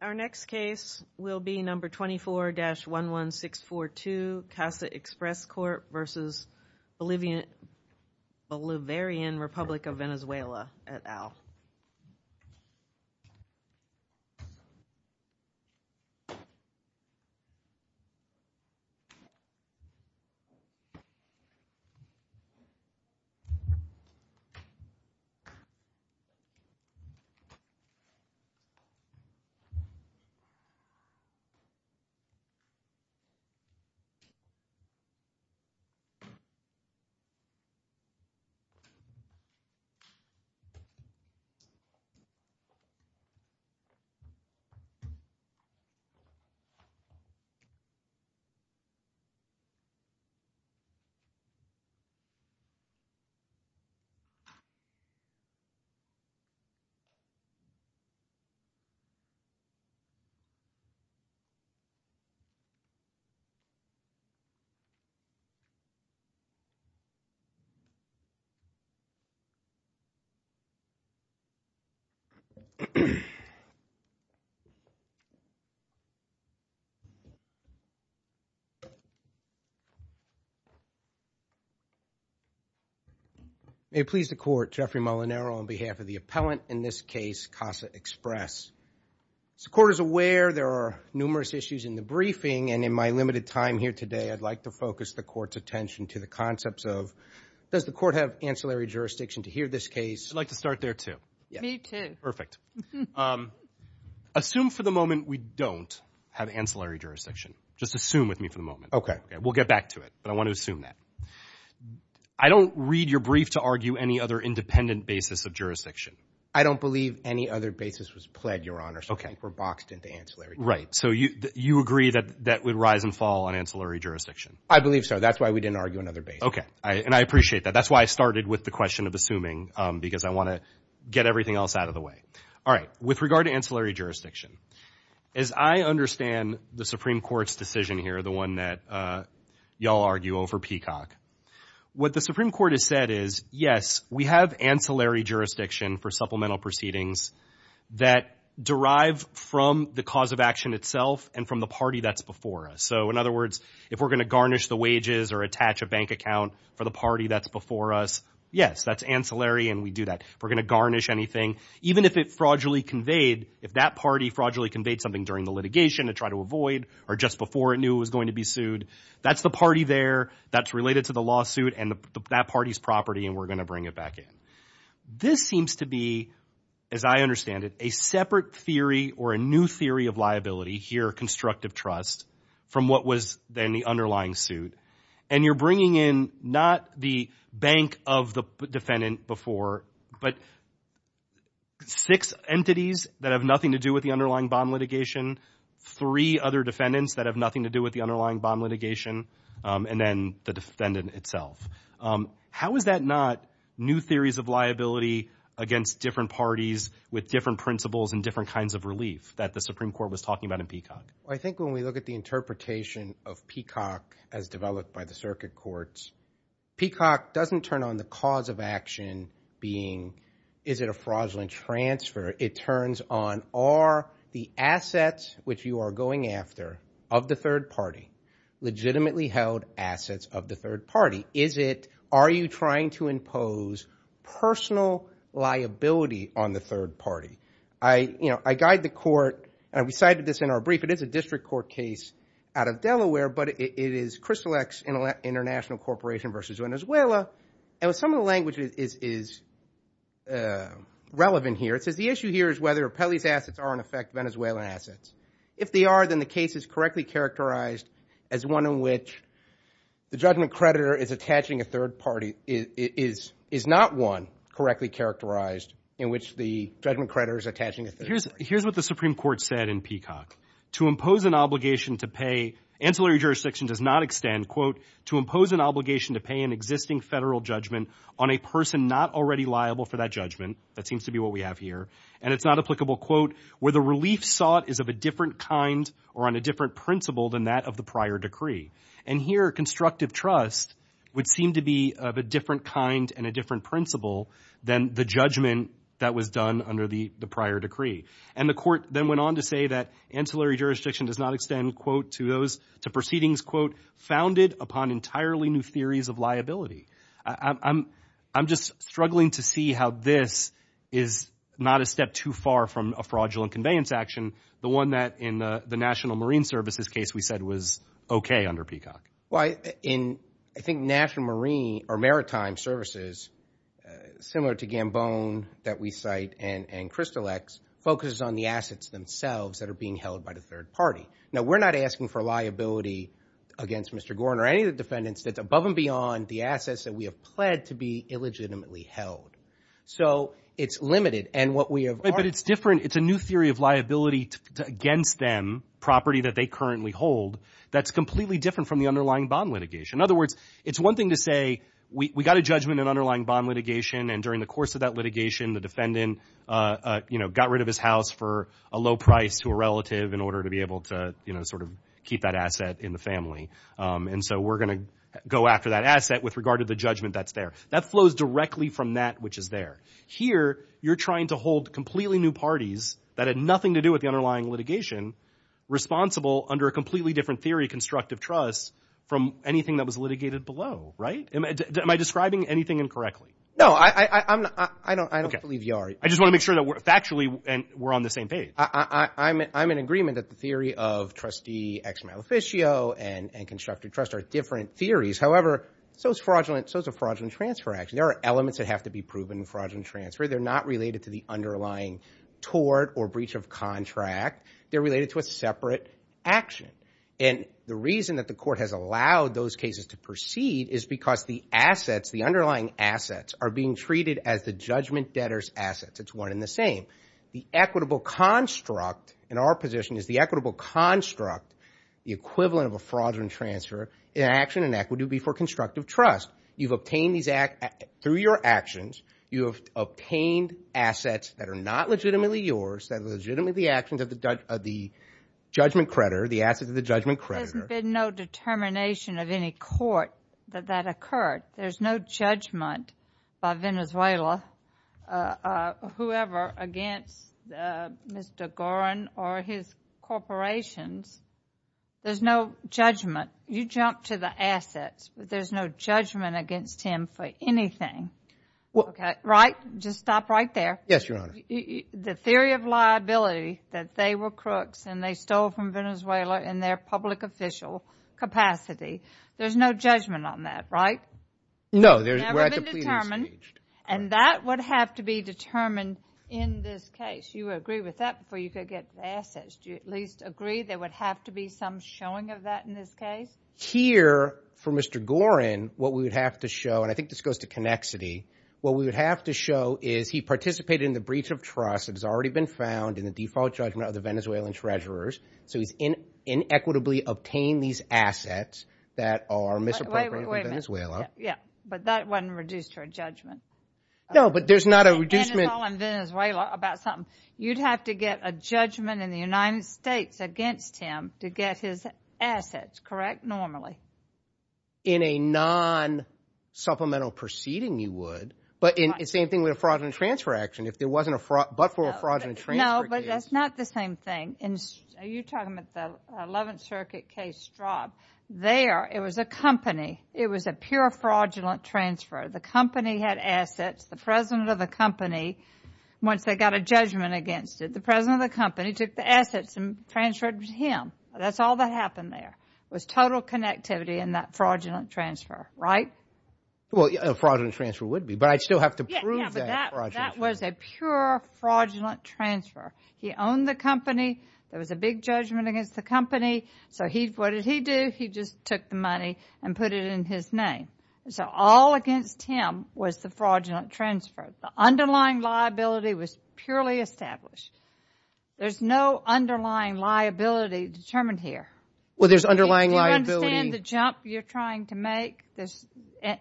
Our next case will be number 24-11642 CASA Express Corp v. Bolivarian Republic of Venezuela. This case is number 24-11642 CASA Express Corp v. Bolivarian Republic of Venezuela. This case is number 24-11642 CASA Express Corp v. Bolivarian Republic of Venezuela. May it please the court, Jeffrey Molinaro on behalf of the appellant in this case CASA Express. As the court is aware, there are numerous issues in the briefing and in my limited time here today, I'd like to focus the court's attention to the concepts of does the court have ancillary jurisdiction to hear this case? I'd like to start there too. Me too. Perfect. Assume for the moment we don't have ancillary jurisdiction. Just assume with me for the moment. Okay. Okay. We'll get back to it, but I want to assume that. I don't read your brief to argue any other independent basis of jurisdiction. I don't believe any other basis was pled, Your Honor. Okay. So I think we're boxed into ancillary. Right. So you agree that that would rise and fall on ancillary jurisdiction? I believe so. That's why we didn't argue another basis. Okay. And I appreciate that. That's why I started with the question of assuming because I want to get everything else out of the way. All right. With regard to ancillary jurisdiction, as I understand the Supreme Court's decision here, the one that y'all argue over Peacock, what the Supreme Court has said is, yes, we have ancillary jurisdiction for supplemental proceedings that derive from the cause of action itself and from the party that's before us. So in other words, if we're going to garnish the wages or attach a bank account for the party that's before us, yes, that's ancillary and we do that. If we're going to garnish anything, even if it fraudulently conveyed, if that party fraudulently conveyed something during the litigation to try to avoid or just before it knew it was going to be sued, that's the party there that's related to the lawsuit and that party's property and we're going to bring it back in. This seems to be, as I understand it, a separate theory or a new theory of liability here, constructive trust, from what was then the underlying suit. And you're bringing in not the bank of the defendant before, but six entities that have nothing to do with the underlying bond litigation, three other defendants that have nothing to do with the underlying bond litigation, and then the defendant itself. How is that not new theories of liability against different parties with different principles and different kinds of relief that the Supreme Court was talking about in Peacock? I think when we look at the interpretation of Peacock as developed by the circuit courts, Peacock doesn't turn on the cause of action being, is it a fraudulent transfer? It turns on, are the assets which you are going after of the third party legitimately held assets of the third party? Is it, are you trying to impose personal liability on the third party? I, you know, I guide the court, and we cited this in our brief, it is a district court case out of Delaware, but it is Crystal X International Corporation versus Venezuela. And with some of the language is relevant here, it says the issue here is whether Pelley's assets are in effect Venezuelan assets. If they are, then the case is correctly characterized as one in which the judgment creditor is attaching a third party is not one correctly characterized in which the judgment creditor is attaching a third party. Here is what the Supreme Court said in Peacock. To impose an obligation to pay, ancillary jurisdiction does not extend, quote, to impose an obligation to pay an existing federal judgment on a person not already liable for that judgment, that seems to be what we have here, and it is not applicable, quote, where the relief sought is of a different kind or on a different principle than that of the prior decree. And here, constructive trust would seem to be of a different kind and a different principle than the judgment that was done under the prior decree. And the court then went on to say that ancillary jurisdiction does not extend, quote, to those to proceedings, quote, founded upon entirely new theories of liability. I'm just struggling to see how this is not a step too far from a fraudulent conveyance action, the one that in the National Marine Services case we said was okay under Peacock. Well, in, I think, National Marine or Maritime Services, similar to Gambone that we cite and Crystal X, focuses on the assets themselves that are being held by the third party. Now, we're not asking for liability against Mr. Gorin or any of the defendants that's above and beyond the assets that we have pled to be illegitimately held. So it's limited. But it's different. It's a new theory of liability against them, property that they currently hold, that's completely different from the underlying bond litigation. In other words, it's one thing to say, we got a judgment in underlying bond litigation and during the course of that litigation, the defendant, you know, got rid of his house for a low price to a relative in order to be able to, you know, sort of keep that asset in the family. And so we're going to go after that asset with regard to the judgment that's there. That flows directly from that which is there. Here, you're trying to hold completely new parties that had nothing to do with the underlying litigation responsible under a completely different theory of constructive trust from anything that was litigated below, right? Am I describing anything incorrectly? No, I don't believe you are. I just want to make sure that we're factually and we're on the same page. I'm in agreement that the theory of trustee ex-maleficio and constructive trust are different theories. However, so is fraudulent transfer action. There are elements that have to be proven in fraudulent transfer. They're not related to the underlying tort or breach of contract. They're related to a separate action. And the reason that the court has allowed those cases to proceed is because the assets, the underlying assets, are being treated as the judgment debtor's assets. It's one and the same. The equitable construct in our position is the equitable construct, the equivalent of a fraudulent transfer in action and equity would be for constructive trust. You've obtained these through your actions. You have obtained assets that are not legitimately yours, that are legitimately the actions of the judgment creditor, the assets of the judgment creditor. There's been no determination of any court that that occurred. There's no judgment by Venezuela, whoever, against Mr. Gorin or his corporations. There's no judgment. You jump to the assets, but there's no judgment against him for anything. Right? Just stop right there. Yes, Your Honor. The theory of liability that they were crooks and they stole from Venezuela in their public official capacity, there's no judgment on that, right? No. Never been determined. And that would have to be determined in this case. You would agree with that before you could get the assets. Do you at least agree there would have to be some showing of that in this case? Here, for Mr. Gorin, what we would have to show, and I think this goes to Connexity, what we would have to show is he participated in the breach of trust that has already been found in the default judgment of the Venezuelan treasurers, so he's inequitably obtained these assets that are misappropriated from Venezuela. Yeah. But that wasn't reduced to a judgment. No, but there's not a reducement. Venezuela, about something, you'd have to get a judgment in the United States against him to get his assets, correct, normally. In a non-supplemental proceeding, you would, but it's the same thing with a fraudulent transfer action. If there wasn't a fraud, but for a fraudulent transfer case. No, but that's not the same thing. Are you talking about the 11th Circuit case Straub? There, it was a company. It was a pure fraudulent transfer. The company had assets. The president of the company, once they got a judgment against it, the president of the That's all that happened there, was total connectivity in that fraudulent transfer, right? Well, a fraudulent transfer would be, but I'd still have to prove that fraudulent transfer. That was a pure fraudulent transfer. He owned the company. There was a big judgment against the company, so what did he do? He just took the money and put it in his name, so all against him was the fraudulent transfer. The underlying liability was purely established. There's no underlying liability determined here. Well, there's underlying liability. Do you understand the jump you're trying to make?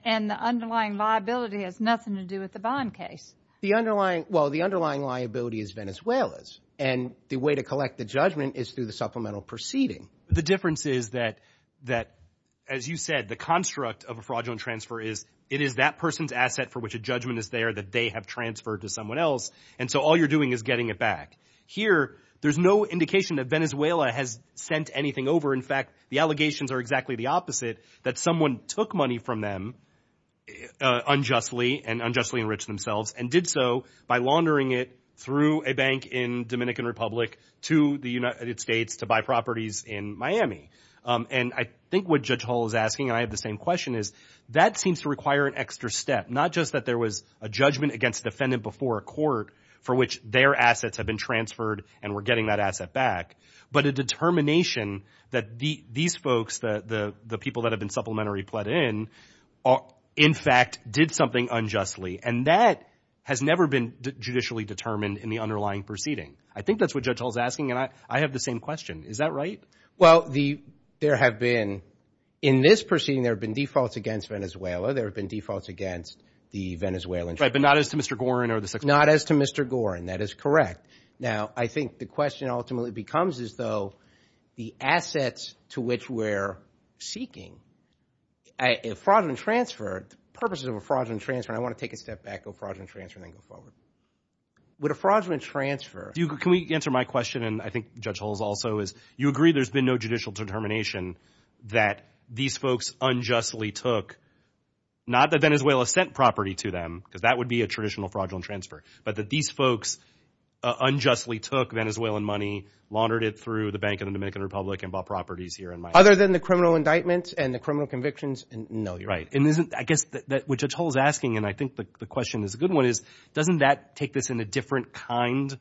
And the underlying liability has nothing to do with the bond case. The underlying, well, the underlying liability is Venezuela's, and the way to collect the judgment is through the supplemental proceeding. The difference is that, as you said, the construct of a fraudulent transfer is, it is that person's asset for which a judgment is there that they have transferred to someone else, and so all you're doing is getting it back. Here, there's no indication that Venezuela has sent anything over. In fact, the allegations are exactly the opposite, that someone took money from them unjustly and unjustly enriched themselves and did so by laundering it through a bank in Dominican Republic to the United States to buy properties in Miami. And I think what Judge Hall is asking, and I have the same question, is that seems to require an extra step, not just that there was a judgment against the defendant before a court for which their assets have been transferred and we're getting that asset back, but a determination that these folks, the people that have been supplementary pled in, in fact, did something unjustly, and that has never been judicially determined in the underlying proceeding. I think that's what Judge Hall is asking, and I have the same question. Is that right? Well, there have been, in this proceeding, there have been defaults against Venezuela. There have been defaults against the Venezuelan. Right, but not as to Mr. Gorin or the six... Not as to Mr. Gorin. That is correct. Now, I think the question ultimately becomes as though the assets to which we're seeking, a fraudulent transfer, the purposes of a fraudulent transfer, and I want to take a step back, go fraudulent transfer, and then go forward. Would a fraudulent transfer... Can we answer my question, and I think Judge Hall's also is, you agree there's been no judicial determination that these folks unjustly took, not that Venezuela sent property to them, because that would be a traditional fraudulent transfer, but that these folks unjustly took Venezuelan money, laundered it through the Bank of the Dominican Republic, and bought properties here in Miami. Other than the criminal indictments and the criminal convictions, no, you're right. And isn't, I guess, what Judge Hall's asking, and I think the question is a good one, is doesn't that take this in a different kind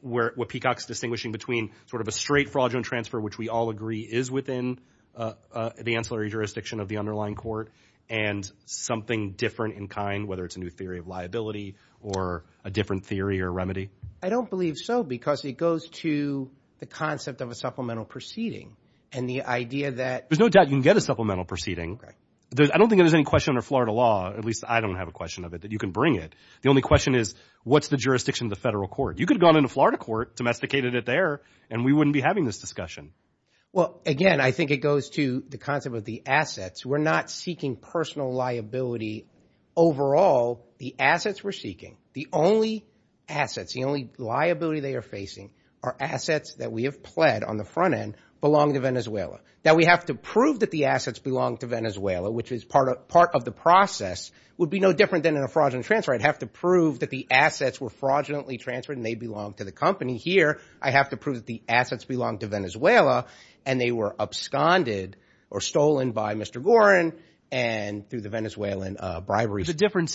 where Peacock's distinguishing between sort of a straight fraudulent transfer, which we all agree is within the ancillary jurisdiction of the underlying court, and something different in kind, whether it's a new theory of liability or a different theory or remedy? I don't believe so, because it goes to the concept of a supplemental proceeding, and the idea that... There's no doubt you can get a supplemental proceeding. I don't think there's any question under Florida law, at least I don't have a question of it, that you can bring it. The only question is, what's the jurisdiction of the federal court? You could have gone into Florida court, domesticated it there, and we wouldn't be having this discussion. Well, again, I think it goes to the concept of the assets. We're not seeking personal liability overall. The assets we're seeking, the only assets, the only liability they are facing are assets that we have pled on the front end, belong to Venezuela, that we have to prove that the assets belong to Venezuela, which is part of the process, would be no different than in a fraudulent transfer. I'd have to prove that the assets were fraudulently transferred and they belong to the company. Here, I have to prove that the assets belong to Venezuela, and they were absconded or stolen by Mr. Gorin, and through the Venezuelan bribery. The difference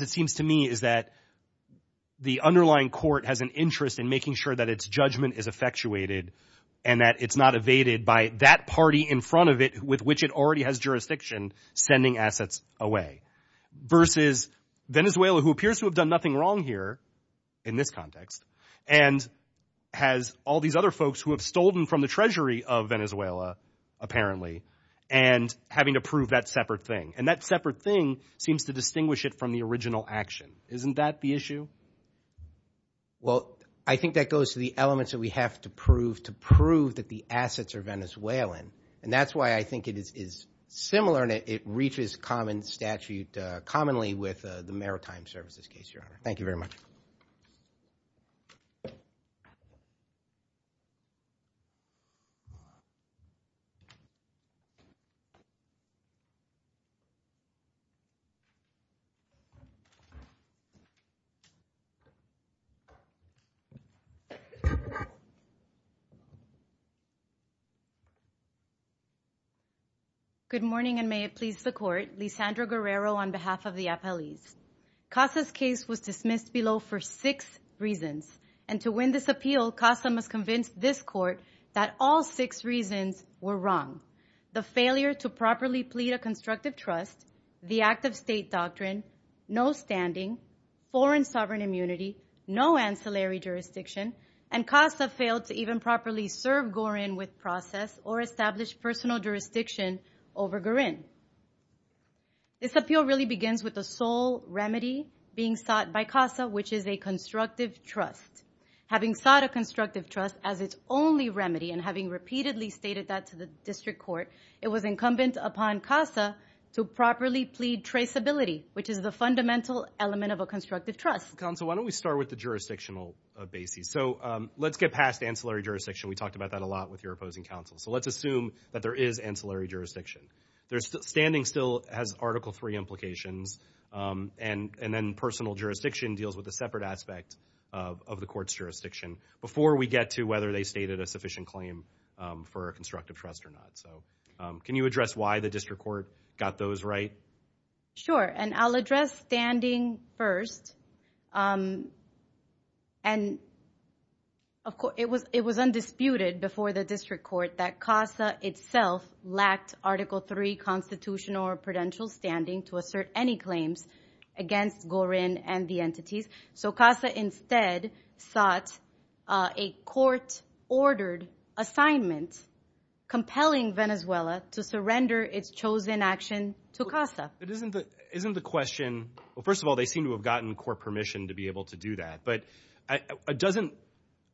it seems to me is that the underlying court has an interest in making sure that its judgment is effectuated, and that it's not evaded by that party in front of it, with which it already has jurisdiction, sending assets away, versus Venezuela, who appears to have done nothing wrong here, in this context, and has all these other folks who have stolen from the treasury of Venezuela, apparently, and having to prove that separate thing. And that separate thing seems to distinguish it from the original action. Isn't that the issue? Well, I think that goes to the elements that we have to prove, to prove that the assets are Venezuelan. And that's why I think it is similar, and it reaches common statute commonly with the maritime services case, Your Honor. Thank you very much. Good morning, and may it please the Court. Your Honor, I would like to begin by acknowledging that this case was dismissed below for six reasons. And to win this appeal, CASA must convince this Court that all six reasons were wrong. The failure to properly plead a constructive trust, the act of state doctrine, no standing, foreign sovereign immunity, no ancillary jurisdiction, and CASA failed to even properly serve Gorin with process or establish personal jurisdiction over Gorin. This appeal really begins with the sole remedy being sought by CASA, which is a constructive trust. Having sought a constructive trust as its only remedy, and having repeatedly stated that to the District Court, it was incumbent upon CASA to properly plead traceability, which is the fundamental element of a constructive trust. Counsel, why don't we start with the jurisdictional basis. So let's get past ancillary jurisdiction. We talked about that a lot with your opposing counsel. So let's assume that there is ancillary jurisdiction. Standing still has Article III implications. And then personal jurisdiction deals with a separate aspect of the Court's jurisdiction before we get to whether they stated a sufficient claim for a constructive trust or not. So can you address why the District Court got those right? Sure. And I'll address standing first. And, of course, it was undisputed before the District Court that CASA itself lacked Article III constitutional or prudential standing to assert any claims against Gorin and the So CASA instead sought a court-ordered assignment compelling Venezuela to surrender its chosen action to CASA. But isn't the question, well, first of all, they seem to have gotten court permission to be able to do that, but doesn't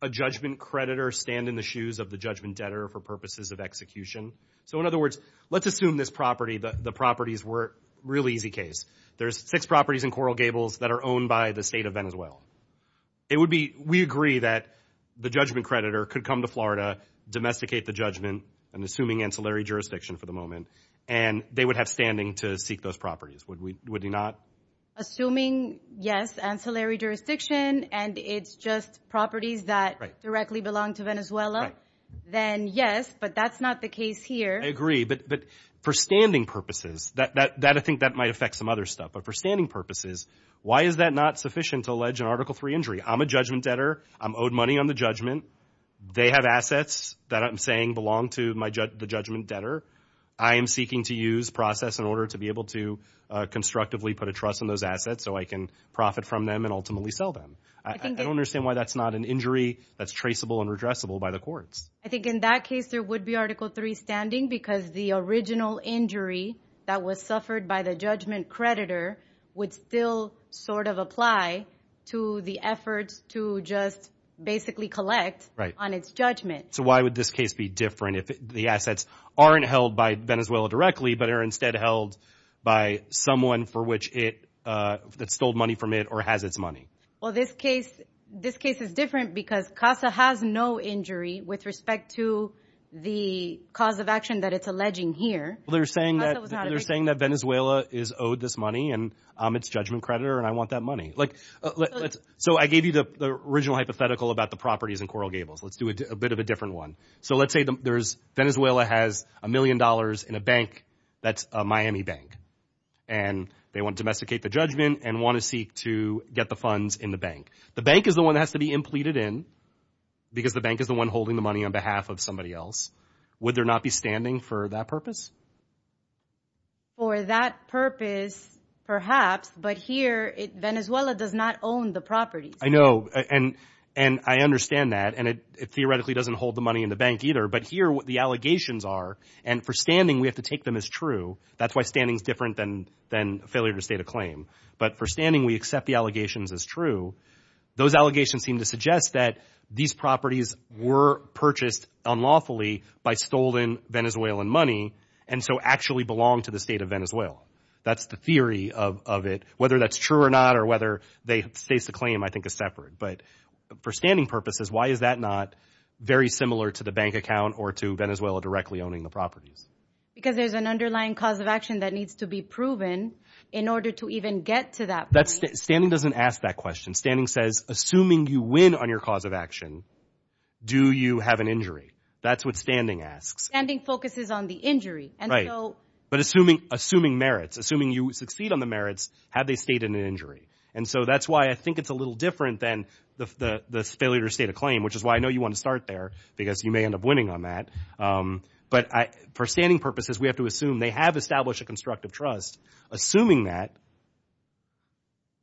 a judgment creditor stand in the shoes of the judgment debtor for purposes of execution? So in other words, let's assume this property, the properties were a really easy case. There's six properties in Coral Gables that are owned by the state of Venezuela. It would be, we agree that the judgment creditor could come to Florida, domesticate the judgment, and assuming ancillary jurisdiction for the moment, and they would have standing to seek those properties. Would he not? Assuming, yes, ancillary jurisdiction, and it's just properties that directly belong to Venezuela, then yes, but that's not the case here. I agree. But for standing purposes, I think that might affect some other stuff. But for standing purposes, why is that not sufficient to allege an Article III injury? I'm a judgment debtor. I'm owed money on the judgment. They have assets that I'm saying belong to the judgment debtor. I am seeking to use process in order to be able to constructively put a trust in those assets so I can profit from them and ultimately sell them. I don't understand why that's not an injury that's traceable and redressable by the courts. I think in that case, there would be Article III standing because the original injury that was suffered by the judgment creditor would still sort of apply to the efforts to just basically collect on its judgment. So why would this case be different? The assets aren't held by Venezuela directly, but are instead held by someone that stole money from it or has its money. Well, this case is different because CASA has no injury with respect to the cause of action that it's alleging here. They're saying that Venezuela is owed this money, and I'm its judgment creditor, and I want that money. So I gave you the original hypothetical about the properties in Coral Gables. Let's do a bit of a different one. So let's say Venezuela has a million dollars in a bank that's a Miami bank, and they want to domesticate the judgment and want to seek to get the funds in the bank. The bank is the one that has to be impleted in because the bank is the one holding the money on behalf of somebody else. Would there not be standing for that purpose? For that purpose, perhaps, but here, Venezuela does not own the properties. I know, and I understand that, and it theoretically doesn't hold the money in the bank either. But here, what the allegations are, and for standing, we have to take them as true. That's why standing is different than failure to state a claim. But for standing, we accept the allegations as true. Those allegations seem to suggest that these properties were purchased unlawfully by stolen Venezuelan money, and so actually belong to the state of Venezuela. That's the theory of it. Whether that's true or not or whether they state the claim, I think, is separate. But for standing purposes, why is that not very similar to the bank account or to Venezuela directly owning the properties? Because there's an underlying cause of action that needs to be proven in order to even get to that point. Standing doesn't ask that question. Standing says, assuming you win on your cause of action, do you have an injury? That's what standing asks. Standing focuses on the injury. Right. But assuming merits, assuming you succeed on the merits, have they stated an injury? And so that's why I think it's a little different than the failure to state a claim, which is why I know you want to start there, because you may end up winning on that. But for standing purposes, we have to assume they have established a constructive trust. Assuming that,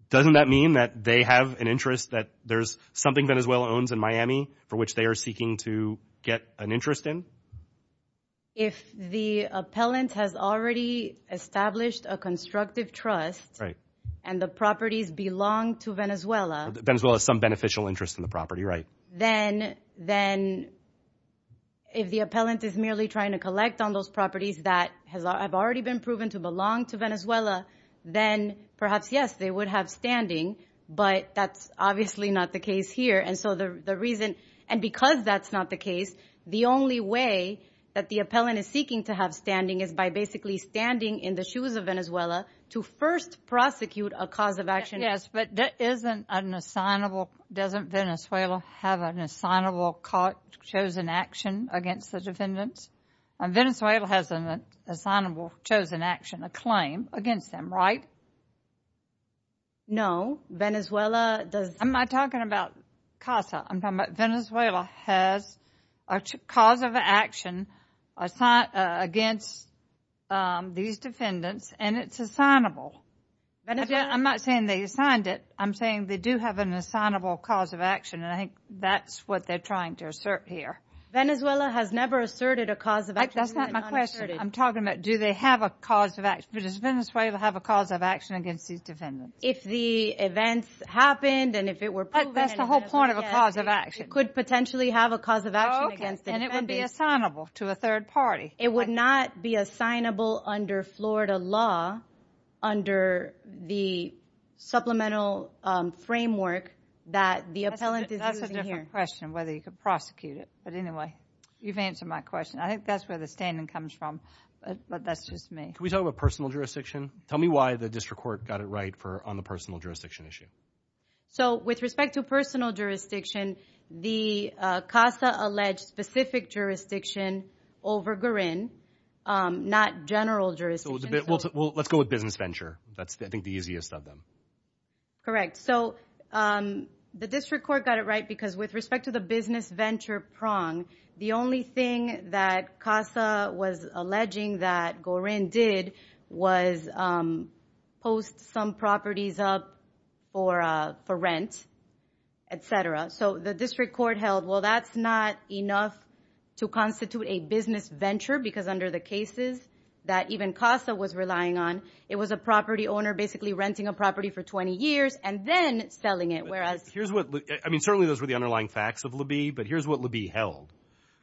doesn't that mean that they have an interest that there's something Venezuela owns in Miami for which they are seeking to get an interest in? If the appellant has already established a constructive trust, and the properties belong to Venezuela. Venezuela has some beneficial interest in the property, right? Then if the appellant is merely trying to collect on those properties that have already been proven to belong to Venezuela, then perhaps, yes, they would have standing. But that's obviously not the case here. And so the reason, and because that's not the case, the only way that the appellant is seeking to have standing is by basically standing in the shoes of Venezuela to first prosecute a cause of action. Yes, but that isn't an assignable, doesn't Venezuela have an assignable chosen action against the defendants? Venezuela has an assignable chosen action, a claim, against them, right? No. Venezuela does not. I'm not talking about CASA, I'm talking about Venezuela has a cause of action against these defendants and it's assignable. I'm not saying they assigned it, I'm saying they do have an assignable cause of action and I think that's what they're trying to assert here. Venezuela has never asserted a cause of action. That's not my question. I'm talking about do they have a cause of action, but does Venezuela have a cause of action against these defendants? If the events happened and if it were proven, it could potentially have a cause of action against the defendants. And it would be assignable to a third party? It would not be assignable under Florida law under the supplemental framework that the appellant is using here. That's a different question, whether you could prosecute it, but anyway, you've answered my question. I think that's where the standing comes from, but that's just me. Can we talk about personal jurisdiction? Tell me why the district court got it right on the personal jurisdiction issue. So with respect to personal jurisdiction, the CASA alleged specific jurisdiction over Gorin, not general jurisdiction. Let's go with business venture. That's, I think, the easiest of them. Correct. So the district court got it right because with respect to the business venture prong, the only thing that CASA was alleging that Gorin did was post some properties up for rent, et cetera. So the district court held, well, that's not enough to constitute a business venture because under the cases that even CASA was relying on, it was a property owner basically renting a property for 20 years and then selling it, whereas... Here's what...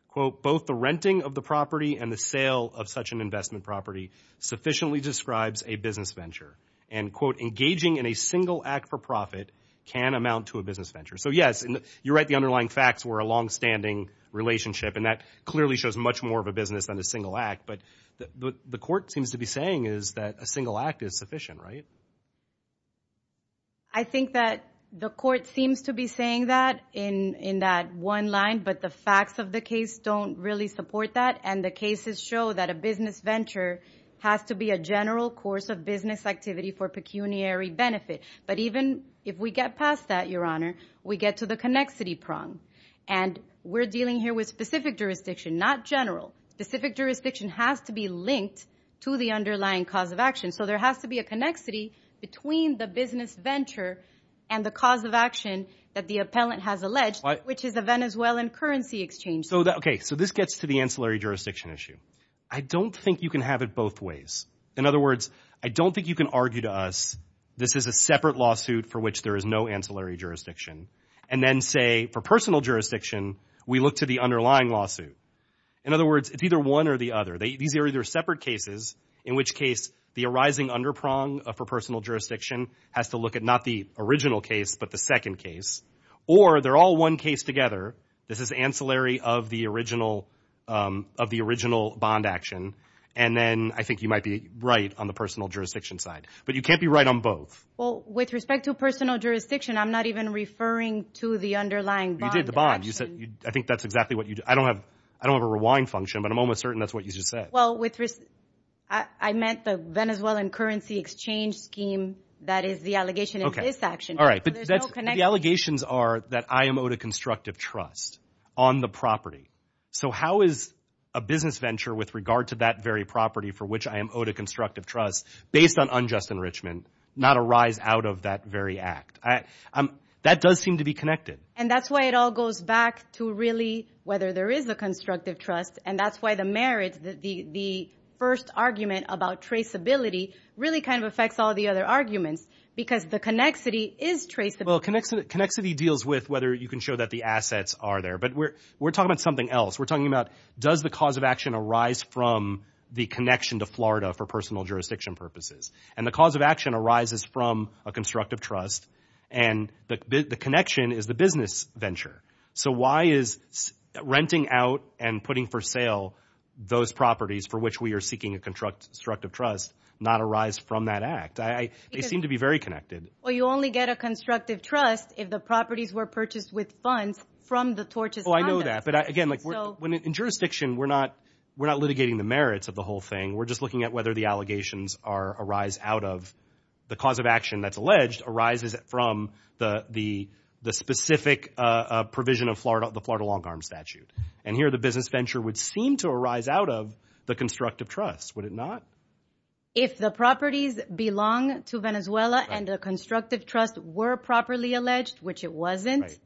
Quote, both the renting of the property and the sale of such an investment property sufficiently describes a business venture. And quote, engaging in a single act for profit can amount to a business venture. So yes, you're right, the underlying facts were a longstanding relationship and that clearly shows much more of a business than a single act, but the court seems to be saying is that a single act is sufficient, right? I think that the court seems to be saying that in that one line, but the facts of the case don't really support that and the cases show that a business venture has to be a general course of business activity for pecuniary benefit. But even if we get past that, Your Honor, we get to the connexity prong. And we're dealing here with specific jurisdiction, not general. Specific jurisdiction has to be linked to the underlying cause of action. So there has to be a connexity between the business venture and the cause of action that the appellant has alleged, which is a Venezuelan currency exchange. Okay, so this gets to the ancillary jurisdiction issue. I don't think you can have it both ways. In other words, I don't think you can argue to us this is a separate lawsuit for which there is no ancillary jurisdiction and then say, for personal jurisdiction, we look to the underlying lawsuit. In other words, it's either one or the other. These are either separate cases, in which case the arising underprong for personal jurisdiction has to look at not the original case, but the second case. Or they're all one case together. This is ancillary of the original bond action. And then I think you might be right on the personal jurisdiction side. But you can't be right on both. Well, with respect to personal jurisdiction, I'm not even referring to the underlying bond You did the bond. I think that's exactly what you did. I don't have I don't have a rewind function, but I'm almost certain that's what you just said. Well, I meant the Venezuelan currency exchange scheme. That is the allegation of this action. But the allegations are that I am owed a constructive trust on the property. So how is a business venture with regard to that very property for which I am owed a constructive trust based on unjust enrichment, not a rise out of that very act? That does seem to be connected. And that's why it all goes back to really whether there is a constructive trust. And that's why the merit, the first argument about traceability really kind of affects all the other arguments, because the connexity is traceable. Well, connexity deals with whether you can show that the assets are there. But we're talking about something else. We're talking about does the cause of action arise from the connection to Florida for personal jurisdiction purposes? And the cause of action arises from a constructive trust. And the connection is the business venture. So why is renting out and putting for sale those properties for which we are seeking a constructive trust not a rise from that act? They seem to be very connected. Well, you only get a constructive trust if the properties were purchased with funds from the tortious conduct. Oh, I know that. But again, in jurisdiction, we're not litigating the merits of the whole thing. We're just looking at whether the allegations arise out of the cause of action that's alleged arises from the specific provision of the Florida Longarm Statute. And here, the business venture would seem to arise out of the constructive trust. Would it not? If the properties belong to Venezuela and the constructive trust were properly alleged, which it wasn't. Right.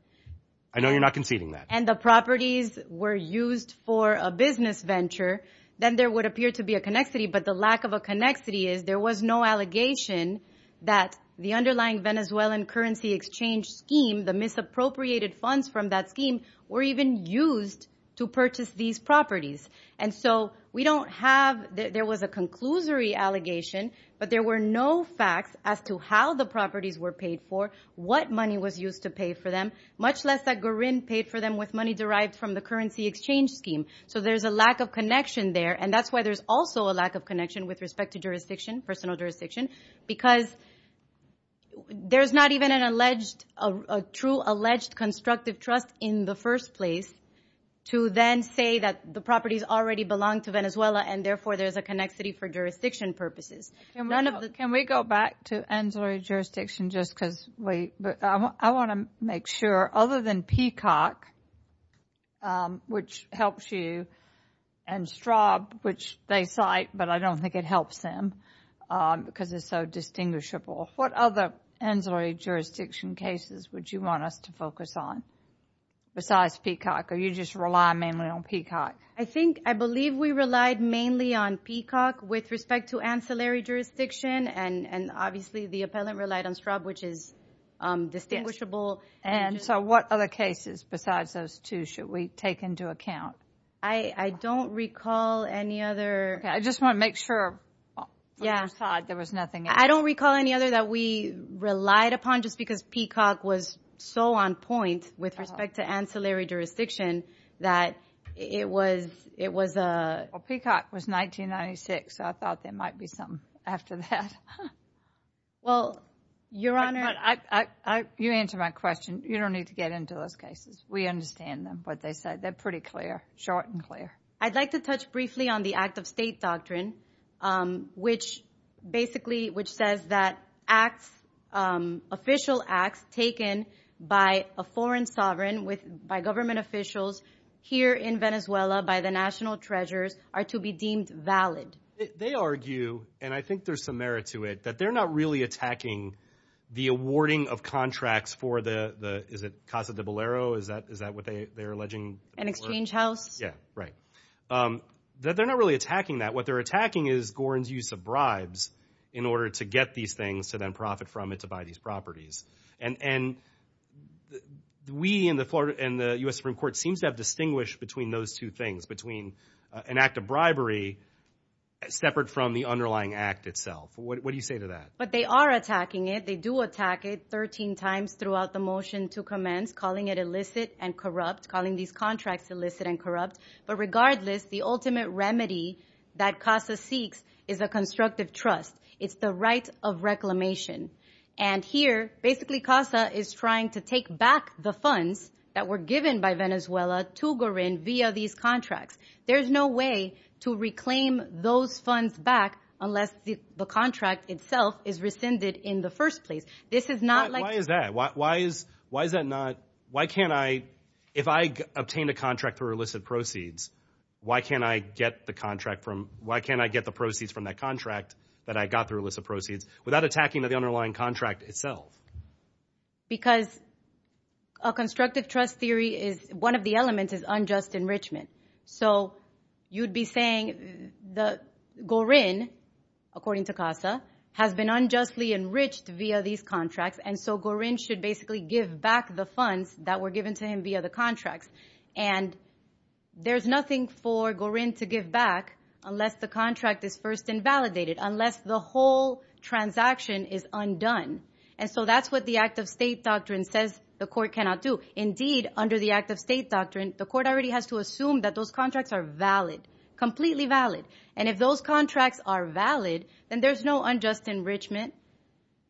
I know you're not conceding that. And the properties were used for a business venture, then there would appear to be a connexity. But the lack of a connexity is there was no allegation that the underlying Venezuelan currency exchange scheme, the misappropriated funds from that scheme, were even used to purchase these properties. And so we don't have, there was a conclusory allegation, but there were no facts as to how the properties were paid for, what money was used to pay for them, much less that Gorin paid for them with money derived from the currency exchange scheme. So there's a lack of connection there. And that's why there's also a lack of connection with respect to jurisdiction, personal jurisdiction, because there's not even an alleged, a true alleged constructive trust in the first place to then say that the properties already belong to Venezuela and therefore there's a connexity for jurisdiction purposes. Can we go back to ancillary jurisdiction just because, wait, I want to make sure, other than Peacock, which helps you, and Straub, which they cite, but I don't think it helps them because it's so distinguishable, what other ancillary jurisdiction cases would you want us to focus on besides Peacock? Or you just rely mainly on Peacock? I think, I believe we relied mainly on Peacock with respect to ancillary jurisdiction and obviously the appellant relied on Straub, which is distinguishable. And so what other cases besides those two should we take into account? I don't recall any other. I just want to make sure, on your side, there was nothing else. I don't recall any other that we relied upon just because Peacock was so on point with respect to ancillary jurisdiction that it was, it was a... Peacock was 1996, so I thought there might be something after that. Well, Your Honor... Your Honor, you answered my question. You don't need to get into those cases. We understand them, what they said. They're pretty clear, short and clear. I'd like to touch briefly on the act of state doctrine, which basically, which says that acts, official acts taken by a foreign sovereign with, by government officials here in Venezuela by the national treasurers are to be deemed valid. They argue, and I think there's some merit to it, that they're not really attacking the awarding of contracts for the, the, is it Casa de Bolero? Is that, is that what they, they're alleging? An exchange house? Yeah. Right. That they're not really attacking that. What they're attacking is Gorin's use of bribes in order to get these things to then profit from it, to buy these properties. And, and we in the Florida and the U.S. Supreme Court seems to have distinguished between those two things, between an act of bribery separate from the underlying act itself. What do you say to that? But they are attacking it. They do attack it 13 times throughout the motion to commence, calling it illicit and corrupt, calling these contracts illicit and corrupt. But regardless, the ultimate remedy that Casa seeks is a constructive trust. It's the right of reclamation. And here, basically Casa is trying to take back the funds that were given by Venezuela to Gorin via these contracts. There's no way to reclaim those funds back unless the contract itself is rescinded in the first place. This is not like- Why is that? Why, why is, why is that not, why can't I, if I obtained a contract through illicit proceeds, why can't I get the contract from, why can't I get the proceeds from that contract that I got through illicit proceeds without attacking the underlying contract itself? Because a constructive trust theory is, one of the elements is unjust enrichment. So you'd be saying that Gorin, according to Casa, has been unjustly enriched via these contracts and so Gorin should basically give back the funds that were given to him via the contracts. And there's nothing for Gorin to give back unless the contract is first invalidated, unless the whole transaction is undone. And so that's what the act of state doctrine says the court cannot do. Indeed, under the act of state doctrine, the court already has to assume that those contracts are valid, completely valid. And if those contracts are valid, then there's no unjust enrichment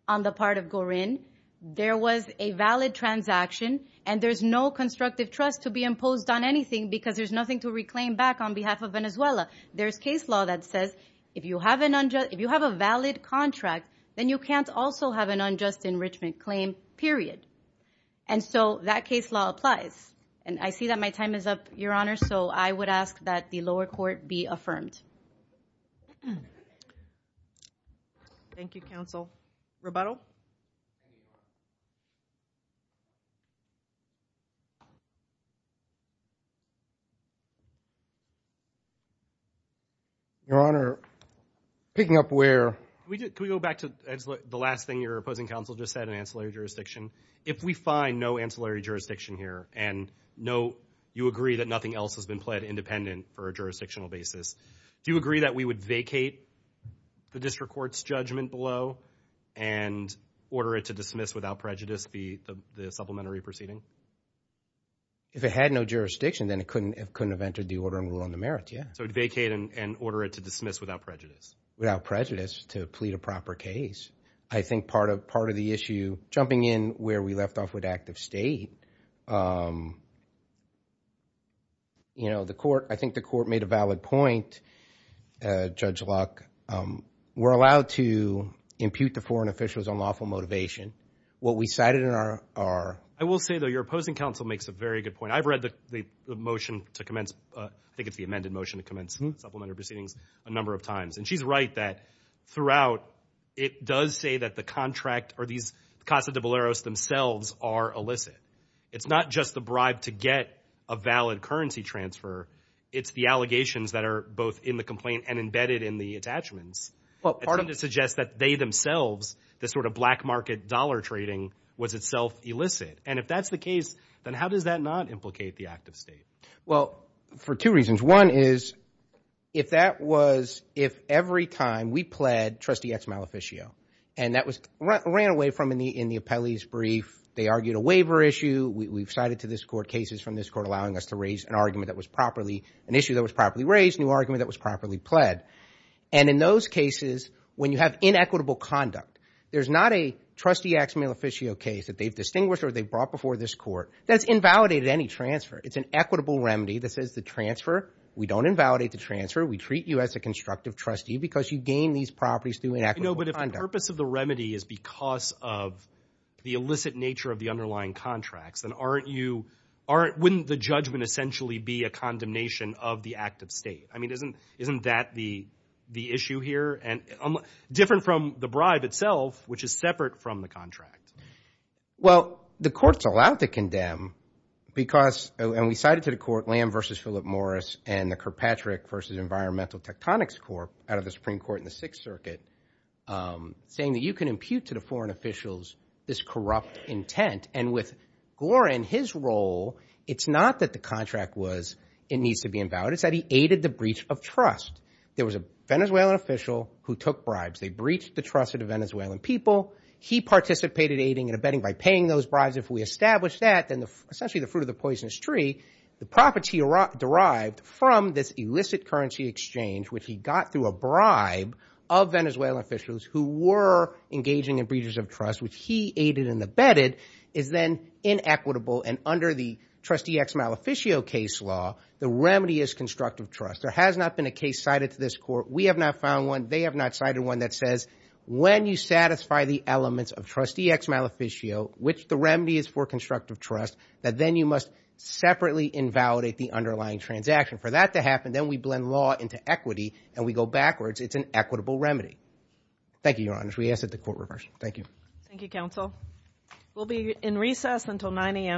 on the part of Gorin. There was a valid transaction and there's no constructive trust to be imposed on anything because there's nothing to reclaim back on behalf of Venezuela. There's case law that says if you have an unjust, if you have a valid contract, then you can't also have an unjust enrichment claim, period. And so that case law applies. And I see that my time is up, Your Honor. So I would ask that the lower court be affirmed. Thank you, counsel. Roboto. Your Honor, picking up where... Can we go back to the last thing your opposing counsel just said in ancillary jurisdiction? If we find no ancillary jurisdiction here and no, you agree that nothing else has been pled independent for a jurisdictional basis, do you agree that we would vacate the district court's judgment below and order it to dismiss without prejudice the supplementary proceeding? If it had no jurisdiction, then it couldn't have entered the order and rule on the merits, yeah. So it vacated and order it to dismiss without prejudice. Without prejudice to plead a proper case. I think part of the issue, jumping in where we left off with active state, you know, the court, I think the court made a valid point, Judge Luck. We're allowed to impute to foreign officials unlawful motivation. What we cited in our... I will say, though, your opposing counsel makes a very good point. I've read the motion to commence, I think it's the amended motion to commence supplementary proceedings a number of times. And she's right that throughout, it does say that the contract or these Casa de Boleros themselves are illicit. It's not just the bribe to get a valid currency transfer. It's the allegations that are both in the complaint and embedded in the attachments. Well, part of... It seems to suggest that they themselves, this sort of black market dollar trading was itself illicit. And if that's the case, then how does that not implicate the active state? Well, for two reasons. One is, if that was, if every time we pled Trustee X Maleficio, and that was ran away from in the appellee's brief, they argued a waiver issue, we've cited to this court cases from this court allowing us to raise an argument that was properly, an issue that was properly raised, a new argument that was properly pled. And in those cases, when you have inequitable conduct, there's not a Trustee X Maleficio case that they've distinguished or they've brought before this court that's invalidated any transfer. It's an equitable remedy that says the transfer, we don't invalidate the transfer. We treat you as a constructive trustee because you gain these properties through inequitable You know, but if the purpose of the remedy is because of the illicit nature of the underlying contracts, then aren't you, wouldn't the judgment essentially be a condemnation of the active state? I mean, isn't that the issue here? And different from the bribe itself, which is separate from the contract. Well, the court's allowed to condemn because, and we cited to the court Lamb v. Philip Morris and the Kirkpatrick v. Environmental Tectonics Corp. out of the Supreme Court in the Sixth Circuit saying that you can impute to the foreign officials this corrupt intent. And with Gorin, his role, it's not that the contract was, it needs to be invalidated, it's that he aided the breach of trust. There was a Venezuelan official who took bribes. They breached the trust of the Venezuelan people. He participated aiding and abetting by paying those bribes. If we establish that, then essentially the fruit of the poisonous tree, the property derived from this illicit currency exchange, which he got through a bribe of Venezuelan officials who were engaging in breaches of trust, which he aided and abetted, is then inequitable. And under the trustee ex-maleficio case law, the remedy is constructive trust. There has not been a case cited to this court. We have not found one. But they have not cited one that says when you satisfy the elements of trustee ex-maleficio, which the remedy is for constructive trust, that then you must separately invalidate the underlying transaction. For that to happen, then we blend law into equity and we go backwards. It's an equitable remedy. Thank you, Your Honor. We ask that the court reverse. Thank you. Thank you, counsel. We'll be in recess until 9 a.m.